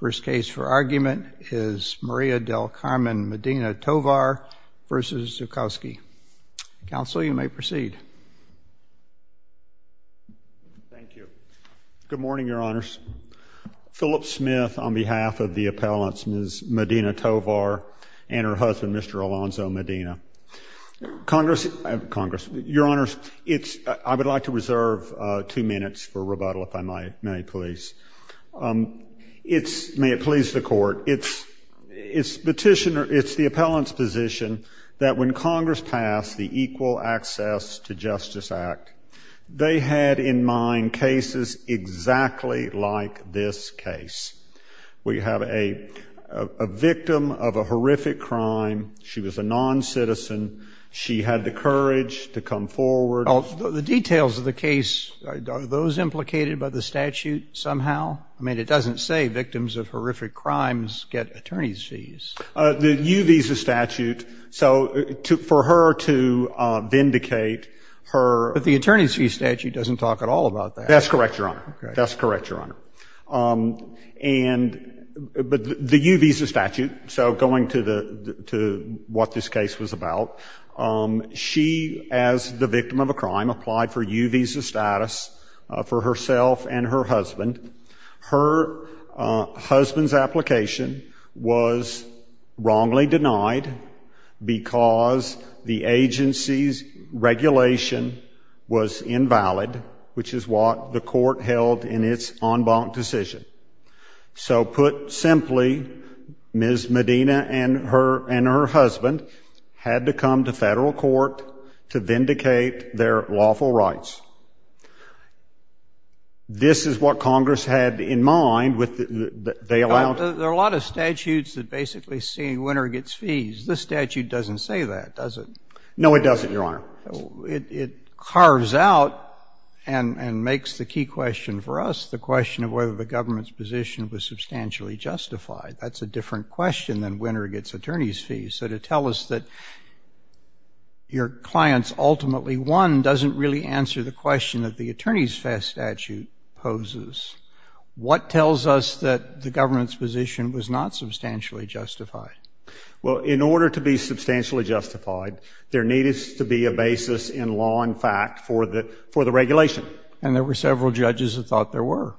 First case for argument is Maria del Carmen Medina Tovar v. Zuchowski. Counsel, you may proceed. Thank you. Good morning, Your Honors. Philip Smith on behalf of the appellants, Ms. Medina Tovar and her husband, Mr. Alonzo Medina. Congress, Your Honors, I would like to reserve two minutes for rebuttal, if I may, please. It's, may it please the Court, it's the appellant's position that when Congress passed the Equal Access to Justice Act, they had in mind cases exactly like this case. We have a victim of a horrific crime, she was a non-citizen, she had the courage to come forward. Well, the details of the case, are those implicated by the statute somehow? I mean, it doesn't say victims of horrific crimes get attorney's fees. The U visa statute, so for her to vindicate her But the attorney's fee statute doesn't talk at all about that. That's correct, Your Honor. That's correct, Your Honor. And, but the U visa statute, so going to the, to what this case was about, she, as the victim of a horrific crime, applied for U visa status for herself and her husband. Her husband's application was wrongly denied because the agency's regulation was invalid, which is what the Court held in its en banc decision. So put simply, Ms. Medina and her, and her husband had to come to federal court to vindicate their lawful rights. This is what Congress had in mind with the, they allowed There are a lot of statutes that basically say a winner gets fees. This statute doesn't say that, does it? No, it doesn't, Your Honor. It carves out and makes the key question for us the question of whether the government's position was substantially justified. That's a different question than winner gets attorney's fees. So to tell us that your client's ultimately won doesn't really answer the question that the attorney's statute poses. What tells us that the government's position was not substantially justified? Well in order to be substantially justified, there needed to be a basis in law and fact for the, for the regulation. And there were several judges that thought there were.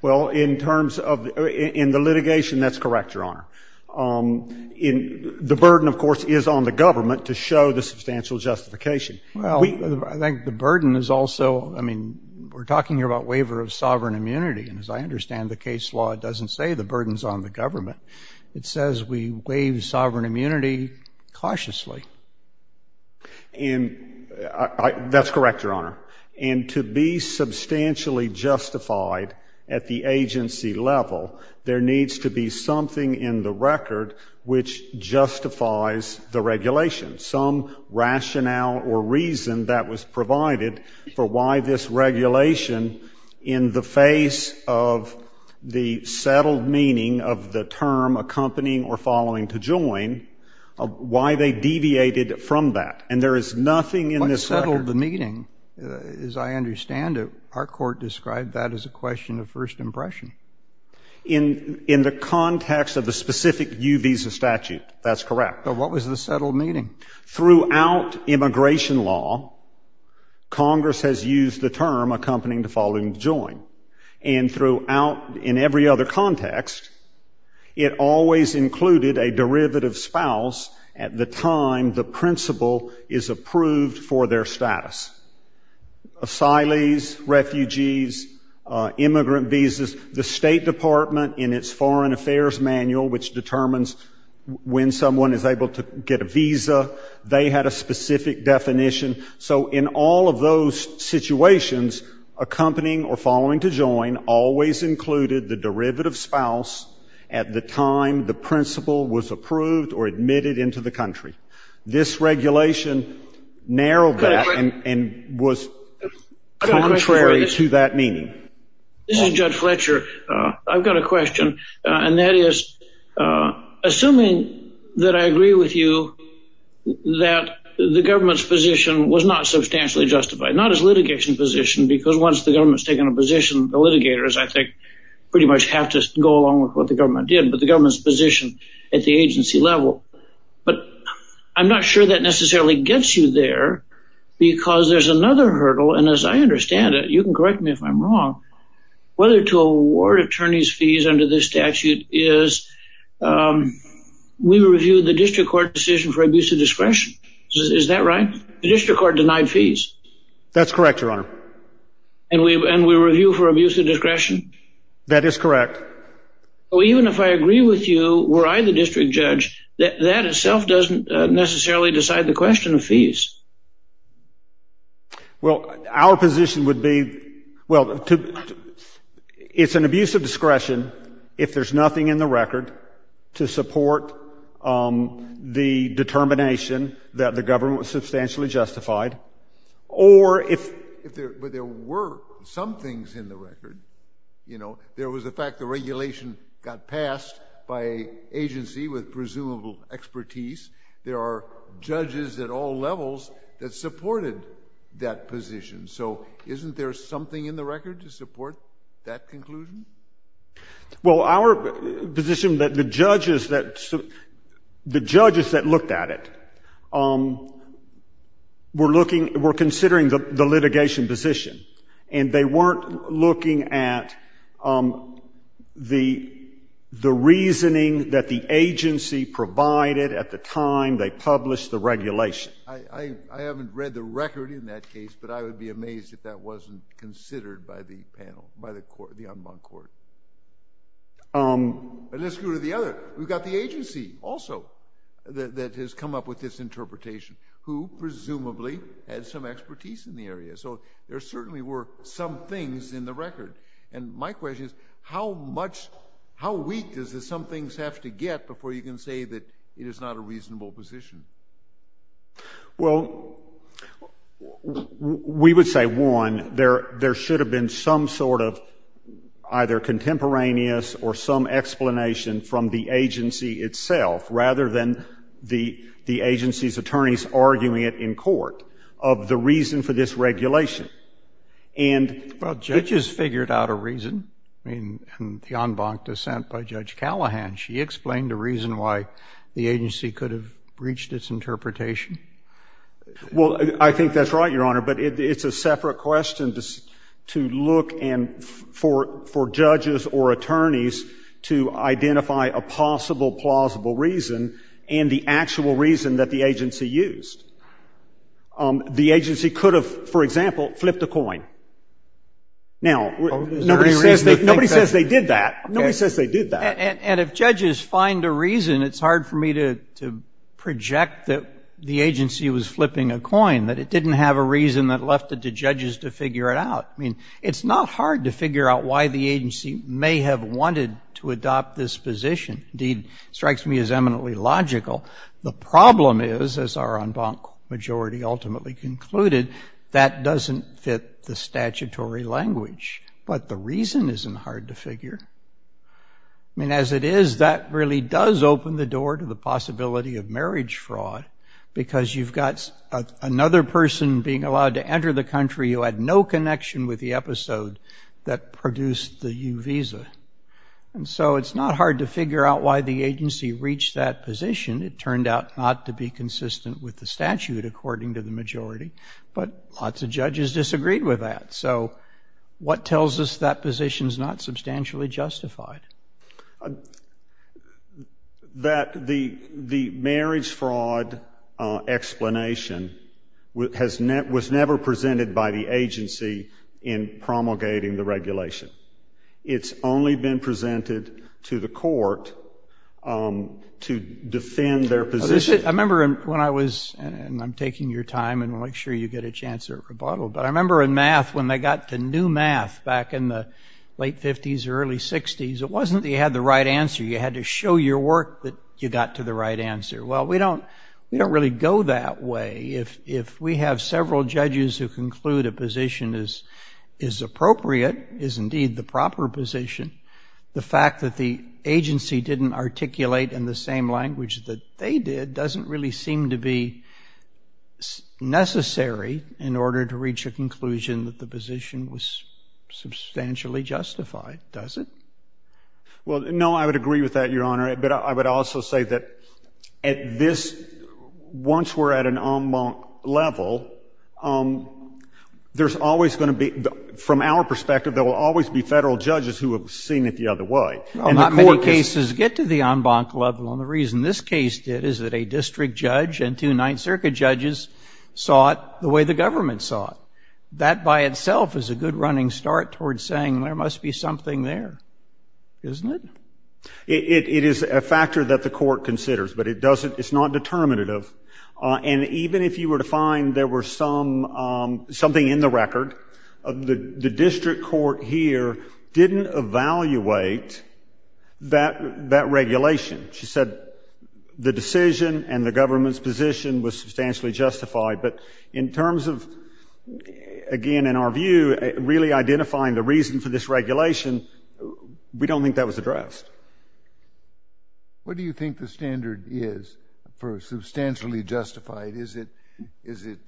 Well in terms of, in the litigation, that's correct, Your Honor. In the burden, of course, is on the government to show the substantial justification. Well, I think the burden is also, I mean, we're talking here about waiver of sovereign immunity, and as I understand the case law, it doesn't say the burden's on the government. It says we waive sovereign immunity cautiously. And I, I, that's correct, Your Honor. And to be substantially justified at the agency level, there needs to be something in the record which justifies the regulation. Some rationale or reason that was provided for why this regulation, in the face of the settled meaning of the term accompanying or following to join, why they deviated from that. And there is nothing in this record. What settled the meeting, as I understand it, our court described that as a question of first impression. In, in the context of the specific U visa statute, that's correct. But what was the settled meaning? Throughout immigration law, Congress has used the term accompanying to following to join, and throughout, in every other context, it always included a derivative spouse at the time the principal is approved for their status. Asylees, refugees, immigrant visas, the state department in its foreign affairs manual which determines when someone is able to get a visa, they had a specific definition. So in all of those situations, accompanying or following to join always included the derivative spouse at the time the principal was approved or admitted into the country. This regulation narrowed that and, and was contrary to that meaning. This is Judge Fletcher. I've got a question. And that is, assuming that I agree with you that the government's position was not substantially justified, not as litigation position, because once the government's taken a position, the litigators, I think, pretty much have to go along with what the government did, but the government's position at the agency level. But I'm not sure that necessarily gets you there because there's another hurdle. And as I understand it, you can correct me if I'm wrong, whether to award attorney's fees under this statute is we reviewed the district court decision for abuse of discretion. Is that right? The district court denied fees. That's correct, your honor. And we, and we review for abuse of discretion? That is correct. Well, even if I agree with you, were I the district judge, that, that itself doesn't necessarily decide the question of fees. Well, our position would be, well, to, it's an abuse of discretion if there's nothing in the record to support the determination that the government was substantially justified. Or if, if there, but there were some things in the record. You know, there was the fact the regulation got passed by an agency with presumable expertise. There are judges at all levels that supported that position. So, isn't there something in the record to support that conclusion? Well, our position that the judges that, the judges that looked at it, were looking, were considering the, the litigation position. And they weren't looking at the, the reasoning that the agency provided at the time they published the regulation. I, I, I haven't read the record in that case, but I would be amazed if that wasn't considered by the panel, by the court, the en banc court. And let's go to the other, we've got the agency also that, that has come up with this interpretation, who presumably had some expertise in the area. So there certainly were some things in the record. And my question is, how much, how weak does the some things have to get before you can say that it is not a reasonable position? Well, we, we would say one, there, there should have been some sort of either contemporaneous or some explanation from the agency itself, rather than the, the agency's attorneys arguing it in court. Of the reason for this regulation, and. Well, judges figured out a reason. I mean, in the en banc dissent by Judge Callahan, she explained the reason why the agency could have breached its interpretation. Well, I think that's right, Your Honor. But it, it's a separate question to, to look and for, for judges or attorneys to identify a possible plausible reason and the actual reason that the agency used. The agency could have, for example, flipped a coin. Now, nobody says they, nobody says they did that. Nobody says they did that. And, and if judges find a reason, it's hard for me to, to project that the agency was flipping a coin, that it didn't have a reason that left it to judges to figure it out. I mean, it's not hard to figure out why the agency may have wanted to adopt this position. Indeed, strikes me as eminently logical. The problem is, as our en banc majority ultimately concluded, that doesn't fit the statutory language. But the reason isn't hard to figure. And as it is, that really does open the door to the possibility of marriage fraud. Because you've got another person being allowed to enter the country who had no connection with the episode that produced the U visa. And so it's not hard to figure out why the agency reached that position. It turned out not to be consistent with the statute according to the majority. But lots of judges disagreed with that. So, what tells us that position's not substantially justified? That the, the marriage fraud explanation has never, was never presented by the agency in promulgating the regulation. It's only been presented to the court to defend their position. I remember when I was, and I'm taking your time, and we'll make sure you get a chance at rebuttal. But I remember in math, when they got to new math back in the late 50s, early 60s, it wasn't that you had the right answer. You had to show your work that you got to the right answer. Well, we don't, we don't really go that way. If, if we have several judges who conclude a position is, is appropriate, is indeed the proper position. The fact that the agency didn't articulate in the same language that they did doesn't really seem to be necessary in order to reach a conclusion that the position was substantially justified, does it? Well, no, I would agree with that, Your Honor. But I, I would also say that at this, once we're at an en banc level, there's always going to be, from our perspective, there will always be federal judges who have seen it the other way. And the court is- Not many cases get to the en banc level, and the reason this case did is that a district judge and two Ninth Circuit judges saw it the way the government saw it. That by itself is a good running start towards saying there must be something there, isn't it? It, it, it is a factor that the court considers, but it doesn't, it's not determinative. And even if you were to find there were some something in the record, the, the district court here didn't evaluate that, that regulation. She said the decision and the government's position was substantially justified. But in terms of, again, in our view, really identifying the reason for this regulation, we don't think that was addressed. What do you think the standard is for substantially justified? Is it, is it,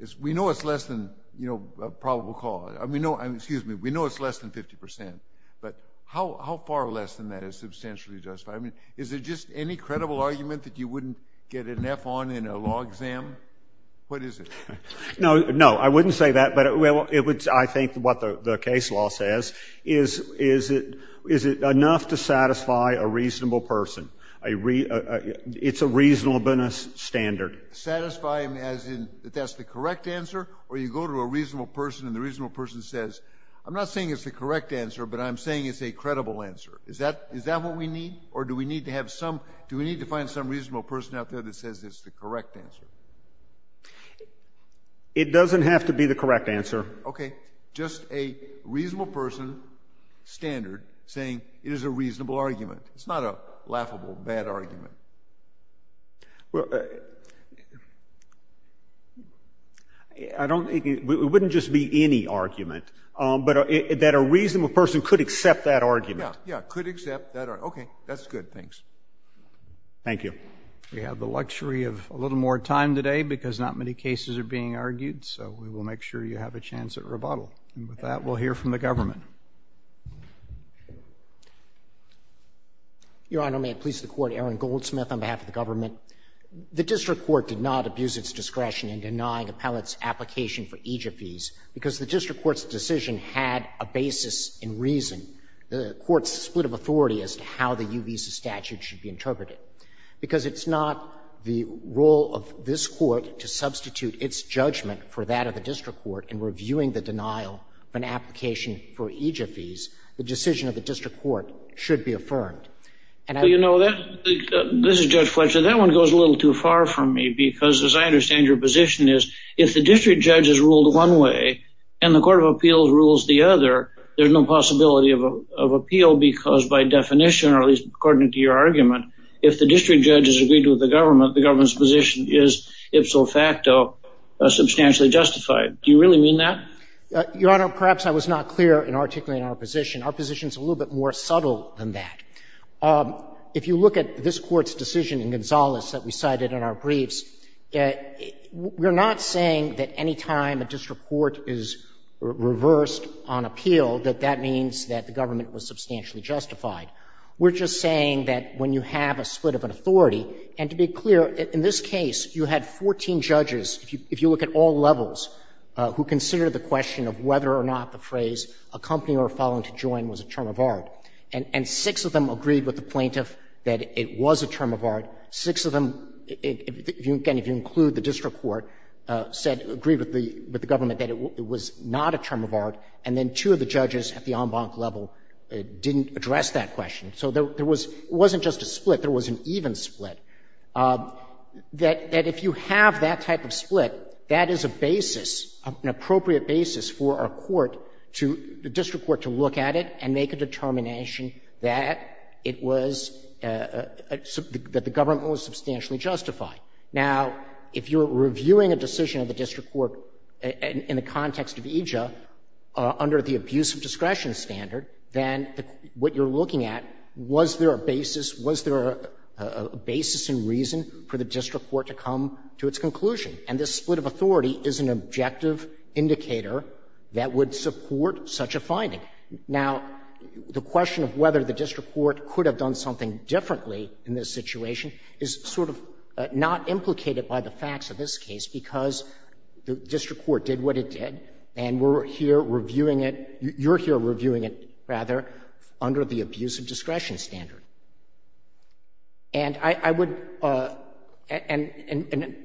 is, we know it's less than, you know, a probable cause. I mean, no, I mean, excuse me. We know it's less than 50 percent. But how, how far less than that is substantially justified? Is it just any credible argument that you wouldn't get an F on in a law exam? What is it? No, no, I wouldn't say that. But it, well, it would, I think what the, the case law says is, is it, is it enough to satisfy a reasonable person? A re, a, a, it's a reasonableness standard. Satisfying as in, that that's the correct answer? Or you go to a reasonable person and the reasonable person says, I'm not saying it's the correct answer, but I'm saying it's a credible answer. Is that, is that what we need? Or do we need to have some, do we need to find some reasonable person out there that says it's the correct answer? It doesn't have to be the correct answer. Okay. Just a reasonable person standard saying it is a reasonable argument. It's not a laughable bad argument. Well, I don't, it wouldn't just be any argument. But that a reasonable person could accept that argument. Yeah, yeah, could accept that argument. Okay. That's good. Thanks. Thank you. We have the luxury of a little more time today because not many cases are being argued, so we will make sure you have a chance at rebuttal. And with that, we'll hear from the government. Your Honor, may it please the Court. Aaron Goldsmith on behalf of the government. The district court did not abuse its discretion in denying appellate's application for EJFEs because the district court's decision had a basis in reason. The court's split of authority as to how the UB's statute should be interpreted. Because it's not the role of this court to substitute its judgment for that of the district court in reviewing the denial of an application for EJFEs, the decision of the district court should be affirmed. And I- You know that, this is Judge Fletcher. That one goes a little too far from me because as I understand your position is, if the district judge has ruled one way and the court of appeals rules the other, there's no possibility of a, of appeal because by definition or at least according to your argument, if the district judge has agreed with the government, the government's position is ipso facto substantially justified. Do you really mean that? Your Honor, perhaps I was not clear in articulating our position. Our position's a little bit more subtle than that. If you look at this court's decision in Gonzales that we cited in our briefs, we're not saying that any time a district court is reversed on appeal, that that means that the government was substantially justified. We're just saying that when you have a split of an authority, and to be clear, in this case, you had 14 judges, if you look at all levels, who considered the question of whether or not the phrase accompanying or following to join was a term of art. And six of them agreed with the plaintiff that it was a term of art. Six of them, again, if you include the district court, said, agreed with the government that it was not a term of art, and then two of the judges at the en banc level didn't address that question. So there was, it wasn't just a split, there was an even split. That if you have that type of split, that is a basis, an appropriate basis for our court to, the district court to look at it and make a determination that it was, that the government was substantially justified. Now, if you're reviewing a decision of the district court in the context of EJIA under the abuse of discretion standard, then what you're looking at, was there a basis, was there a basis and reason for the district court to come to its conclusion? And this split of authority is an objective indicator that would support such a finding. Now, the question of whether the district court could have done something differently in this situation is sort of not implicated by the facts of this case, because the district court did what it did, and we're here reviewing it, you're here reviewing it, rather, under the abuse of discretion standard. And I would, and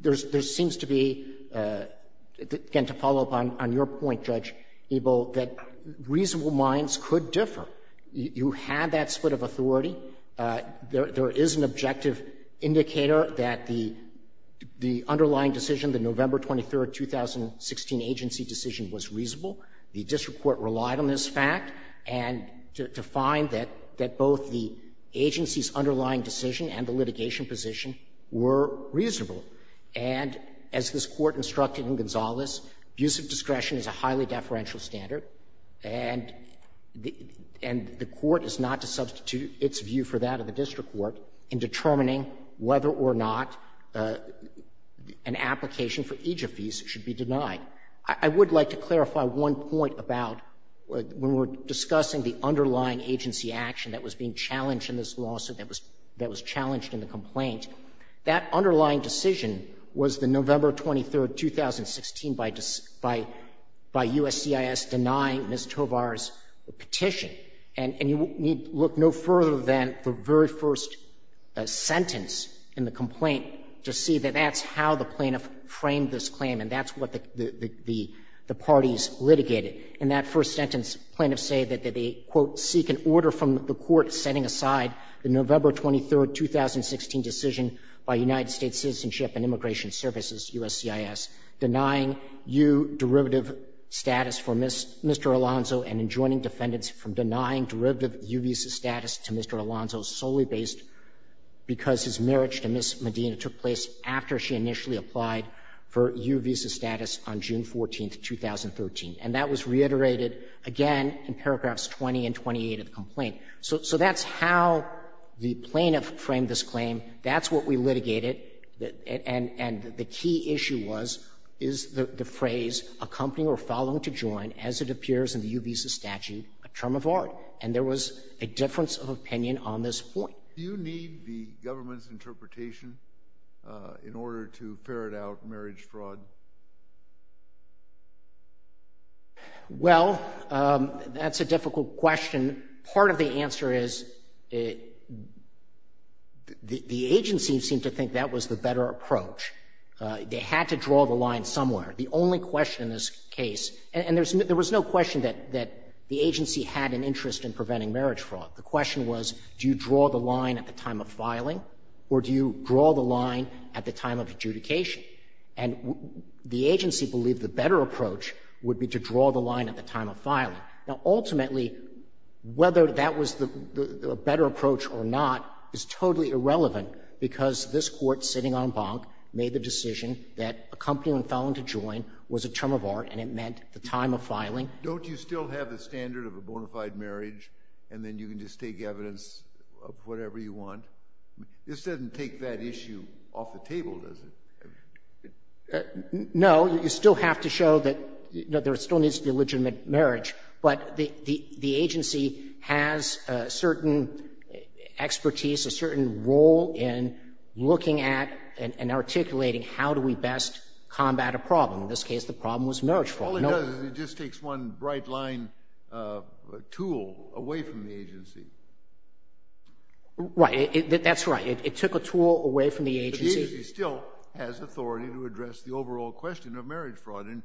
there seems to be, again, to follow up on your point, Judge Ebel, that reasonable minds could differ. You had that split of authority. There is an objective indicator that the underlying decision, the November 23, 2016, agency decision was reasonable. The district court relied on this fact, and to find that both the agency's underlying decision and the litigation position were reasonable. And as this Court instructed in Gonzales, abuse of discretion is a highly deferential standard, and the Court is not to substitute its view for that of the district court in determining whether or not an application for each of these should be denied. I would like to clarify one point about when we're discussing the underlying agency action that was being challenged in this lawsuit, that was challenged in the complaint, that underlying decision was the November 23, 2016, by USCIS denying Ms. Tovar's petition. And you need look no further than the very first sentence in the complaint to see that that's how the plaintiff framed this claim, and that's what the parties litigated. In that first sentence, plaintiffs say that they, quote, seek an order from the Court setting aside the November 23, 2016, decision by United States Citizenship and Immigration Services, USCIS, denying U derivative status for Mr. Alonzo and enjoining defendants from denying derivative U visa status to Mr. Alonzo solely based because his marriage to Ms. Medina took place after she initially applied for U visa status on June 14, 2013. And that was reiterated again in paragraphs 20 and 28 of the complaint. So that's how the plaintiff framed this claim. That's what we litigated. And the key issue was, is the phrase accompanying or following to join, as it appears in the U visa statute, a term of art? And there was a difference of opinion on this point. Do you need the government's interpretation in order to ferret out marriage fraud? Well, that's a difficult question. And part of the answer is, the agency seemed to think that was the better approach. They had to draw the line somewhere. The only question in this case, and there was no question that the agency had an interest in preventing marriage fraud. The question was, do you draw the line at the time of filing or do you draw the line at the time of adjudication? And the agency believed the better approach would be to draw the line at the time of filing. Now, ultimately, whether that was the better approach or not is totally irrelevant because this Court, sitting on Bonk, made the decision that accompanying and following to join was a term of art and it meant the time of filing. Don't you still have the standard of a bona fide marriage and then you can just take evidence of whatever you want? This doesn't take that issue off the table, does it? No. You still have to show that there still needs to be legitimate marriage, but the agency has a certain expertise, a certain role in looking at and articulating how do we best combat a problem. In this case, the problem was marriage fraud. All it does is it just takes one bright line tool away from the agency. Right. That's right. It took a tool away from the agency. The agency still has authority to address the overall question of marriage fraud and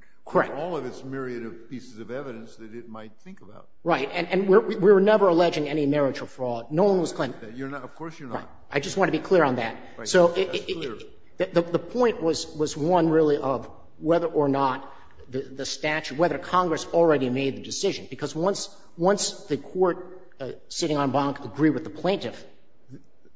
all of its myriad of pieces of evidence that it might think about. Right. And we were never alleging any marriage or fraud. No one was claiming that. You're not. Of course you're not. I just want to be clear on that. So the point was one really of whether or not the statute, whether Congress already made the decision, because once the Court, sitting on Bonk, agreed with the plaintiff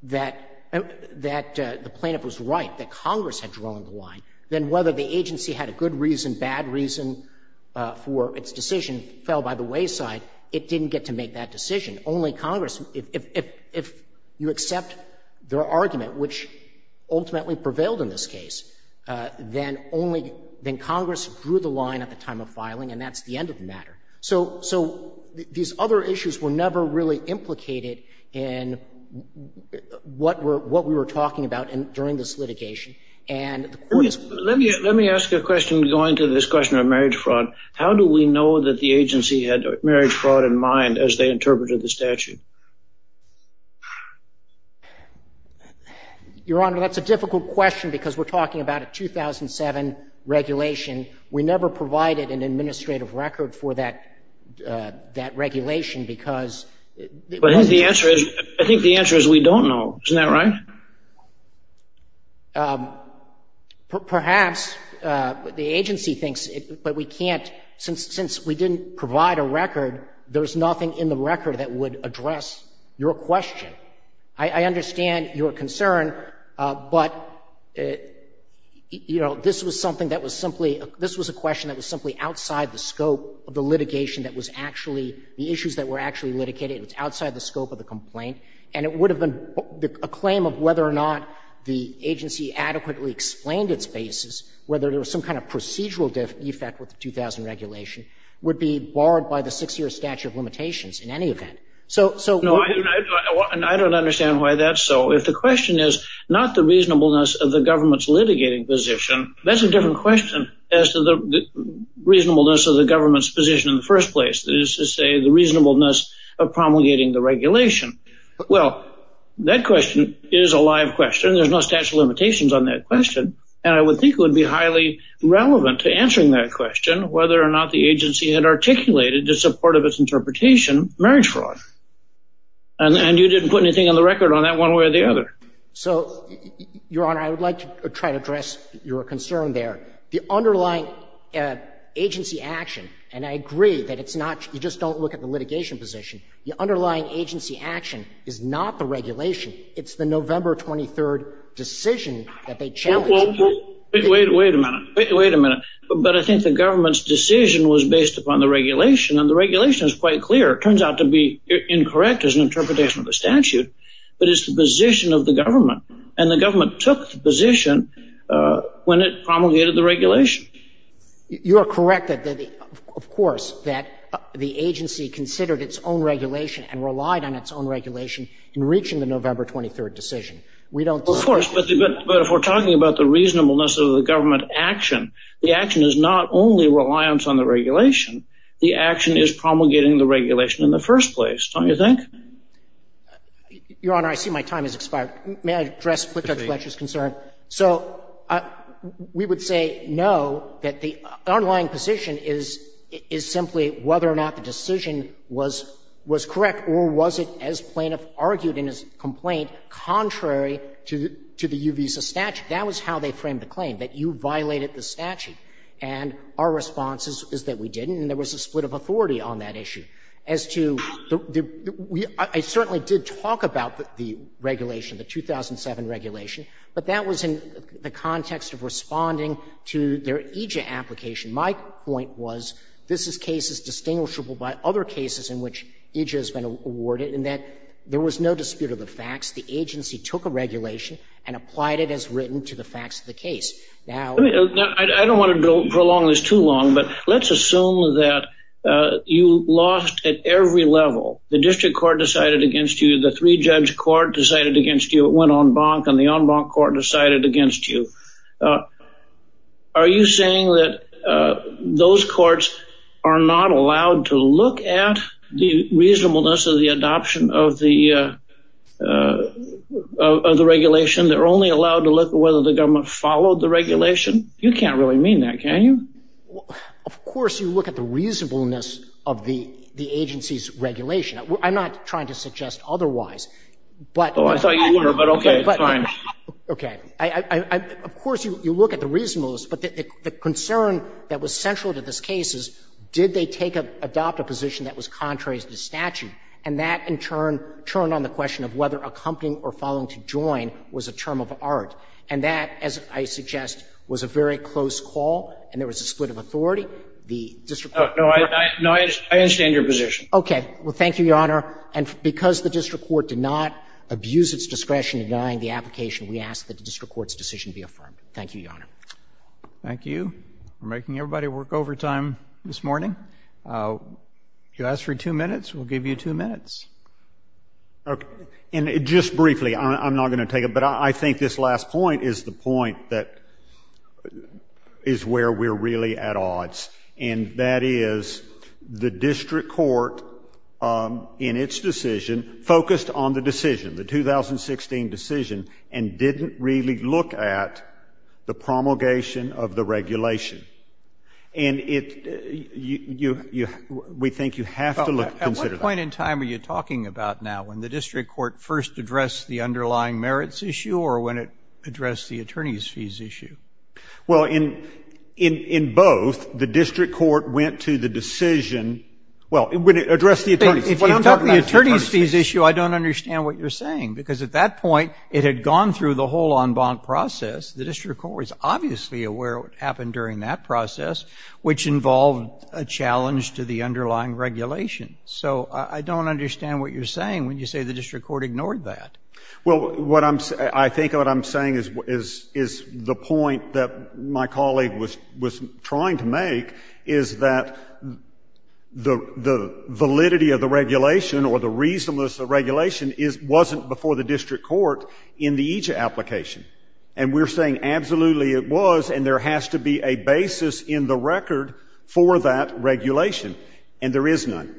that the plaintiff was right, that Congress had drawn the line, then whether the agency had a good reason, bad reason for its decision fell by the wayside, it didn't get to make that decision. Only Congress, if you accept their argument, which ultimately prevailed in this case, then only then Congress drew the line at the time of filing and that's the end of the matter. So these other issues were never really implicated in what we were talking about during this litigation. Let me ask a question going to this question of marriage fraud. How do we know that the agency had marriage fraud in mind as they interpreted the statute? Your Honor, that's a difficult question because we're talking about a 2007 regulation. We never provided an administrative record for that regulation because... I think the answer is we don't know. Isn't that right? Perhaps the agency thinks, but we can't, since we didn't provide a record, there's nothing in the record that would address your question. I understand your concern, but, you know, this was something that was simply, this was a question that was simply outside the scope of the litigation that was actually, the issues that were actually litigated, it was outside the scope of the complaint and it would have been a claim of whether or not the agency adequately explained its basis, whether there was some kind of procedural defect with the 2000 regulation would be barred by the 6-year statute of limitations in any event. So, I don't understand why that's so. If the question is not the reasonableness of the government's litigating position, that's a different question as to the reasonableness of the government's position in the first place, that is to say the reasonableness of promulgating the regulation. Well, that question is a live question. There's no statute of limitations on that question. And I would think it would be highly relevant to answering that question, whether or not the agency had articulated, in support of its interpretation, marriage fraud. And you didn't put anything on the record on that one way or the other. So, Your Honor, I would like to try to address your concern there. The underlying agency action, and I agree that it's not, you just don't look at the litigation position, the underlying agency action is not the regulation. It's the November 23rd decision that they challenged. Well, wait a minute. Wait a minute. But I think the government's decision was based upon the regulation. And the regulation is quite clear. It turns out to be incorrect as an interpretation of the statute. But it's the position of the government. And the government took the position when it promulgated the regulation. You are correct that, of course, that the agency considered its own regulation and relied on its own regulation in reaching the November 23rd decision. We don't— Of course, but if we're talking about the reasonableness of the government action, the action is not only reliance on the regulation. The action is promulgating the regulation in the first place. Don't you think? Your Honor, I see my time has expired. May I address Platt, Judge Fletcher's concern? So we would say no, that the underlying position is simply whether or not the decision was correct or was it, as Plaintiff argued in his complaint, contrary to the U visa statute. That was how they framed the claim, that you violated the statute. And our response is that we didn't, and there was a split of authority on that issue. As to the—I certainly did talk about the regulation, the 2007 regulation, but that was in the context of responding to their EJIA application. My point was this is cases distinguishable by other cases in which EJIA has been awarded, in that there was no dispute of the facts. The agency took a regulation and applied it as written to the facts of the case. Now— I don't want to prolong this too long, but let's assume that you lost at every level. The district court decided against you. The three-judge court decided against you. It went en banc, and the en banc court decided against you. Are you saying that those courts are not allowed to look at the reasonableness of the adoption of the regulation? They're only allowed to look at whether the government followed the regulation? You can't really mean that, can you? Well, of course you look at the reasonableness of the agency's regulation. I'm not trying to suggest otherwise, but— Oh, I thought you were, but okay, fine. Okay. Of course you look at the reasonableness, but the concern that was central to this case is did they take a — adopt a position that was contrary to the statute, and that, in turn, turned on the question of whether accompanying or following to join was a term of art. And that, as I suggest, was a very close call, and there was a split of authority. The district court— No, I understand your position. Okay. Well, thank you, Your Honor. And because the district court did not abuse its discretion in denying the application, we ask that the district court's decision be affirmed. Thank you, Your Honor. Thank you. We're making everybody work overtime this morning. If you ask for two minutes, we'll give you two minutes. Okay. And just briefly, I'm not going to take it, but I think this last point is the point that is where we're really at odds, and that is the district court, in its decision, focused on the decision, the 2016 decision, and didn't really look at the promulgation of the regulation. And we think you have to consider that. Well, at what point in time are you talking about now, when the district court first addressed the underlying merits issue or when it addressed the attorneys' fees issue? Well, in both, the district court went to the decision—well, when it addressed the attorneys— If you talk about the attorneys' fees issue, I don't understand what you're saying, because at that point, it had gone through the whole en banc process. The district court was obviously aware of what happened during that process, which involved a challenge to the underlying regulation. So I don't understand what you're saying when you say the district court ignored that. Well, what I'm—I think what I'm saying is the point that my colleague was trying to make is that the validity of the regulation or the reasonableness of the regulation wasn't before the district court in the EJIA application. And we're saying absolutely it was, and there has to be a basis in the record for that regulation. And there is none.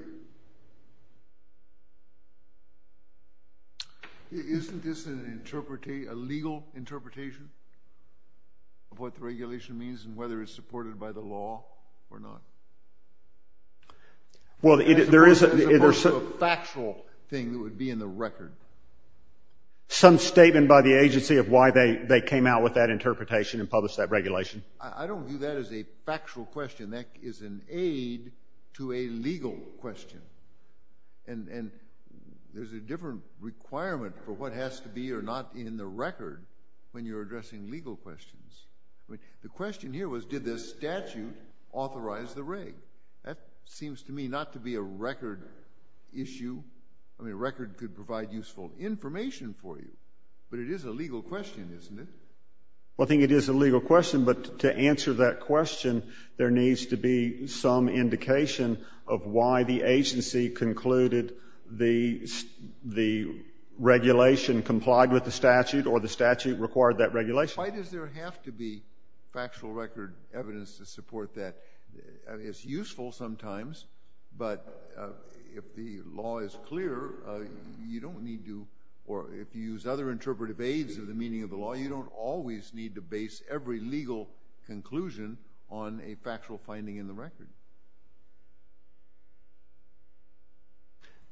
Isn't this an interpretation—a legal interpretation of what the regulation means and whether it's supported by the law or not? Well, there is— As opposed to a factual thing that would be in the record. Some statement by the agency of why they came out with that interpretation and published that regulation. I don't view that as a factual question. That is an aid to a legal question. And there's a different requirement for what has to be or not in the record when you're addressing legal questions. I mean, the question here was, did the statute authorize the rig? That seems to me not to be a record issue. I mean, a record could provide useful information for you. But it is a legal question, isn't it? Well, I think it is a legal question, but to answer that question, there needs to be some indication of why the agency concluded the regulation complied with the statute or the statute required that regulation. Why does there have to be factual record evidence to support that? It's useful sometimes, but if the law is clear, you don't need to—or if you use other interpretive aids of the meaning of the law, you don't always need to base every legal conclusion on a factual finding in the record.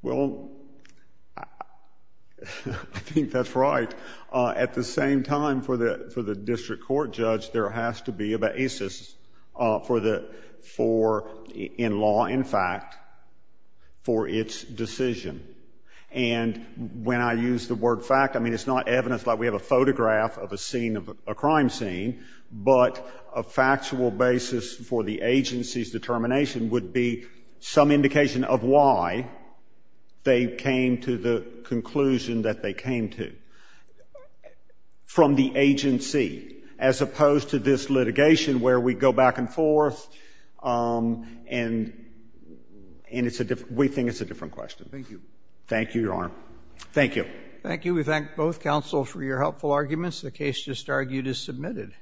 Well, I think that's right. At the same time, for the district court judge, there has to be a basis in law, in fact, for its decision. And when I use the word fact, I mean, it's not evidence like we have a photograph of a crime scene, but a factual basis for the agency's determination would be some indication of why they came to the conclusion that they came to. From the agency, as opposed to this litigation where we go back and forth, and we think it's a different question. Thank you. Thank you, Your Honor. Thank you. Thank you. We thank both counsels for your helpful arguments. The case just argued is submitted.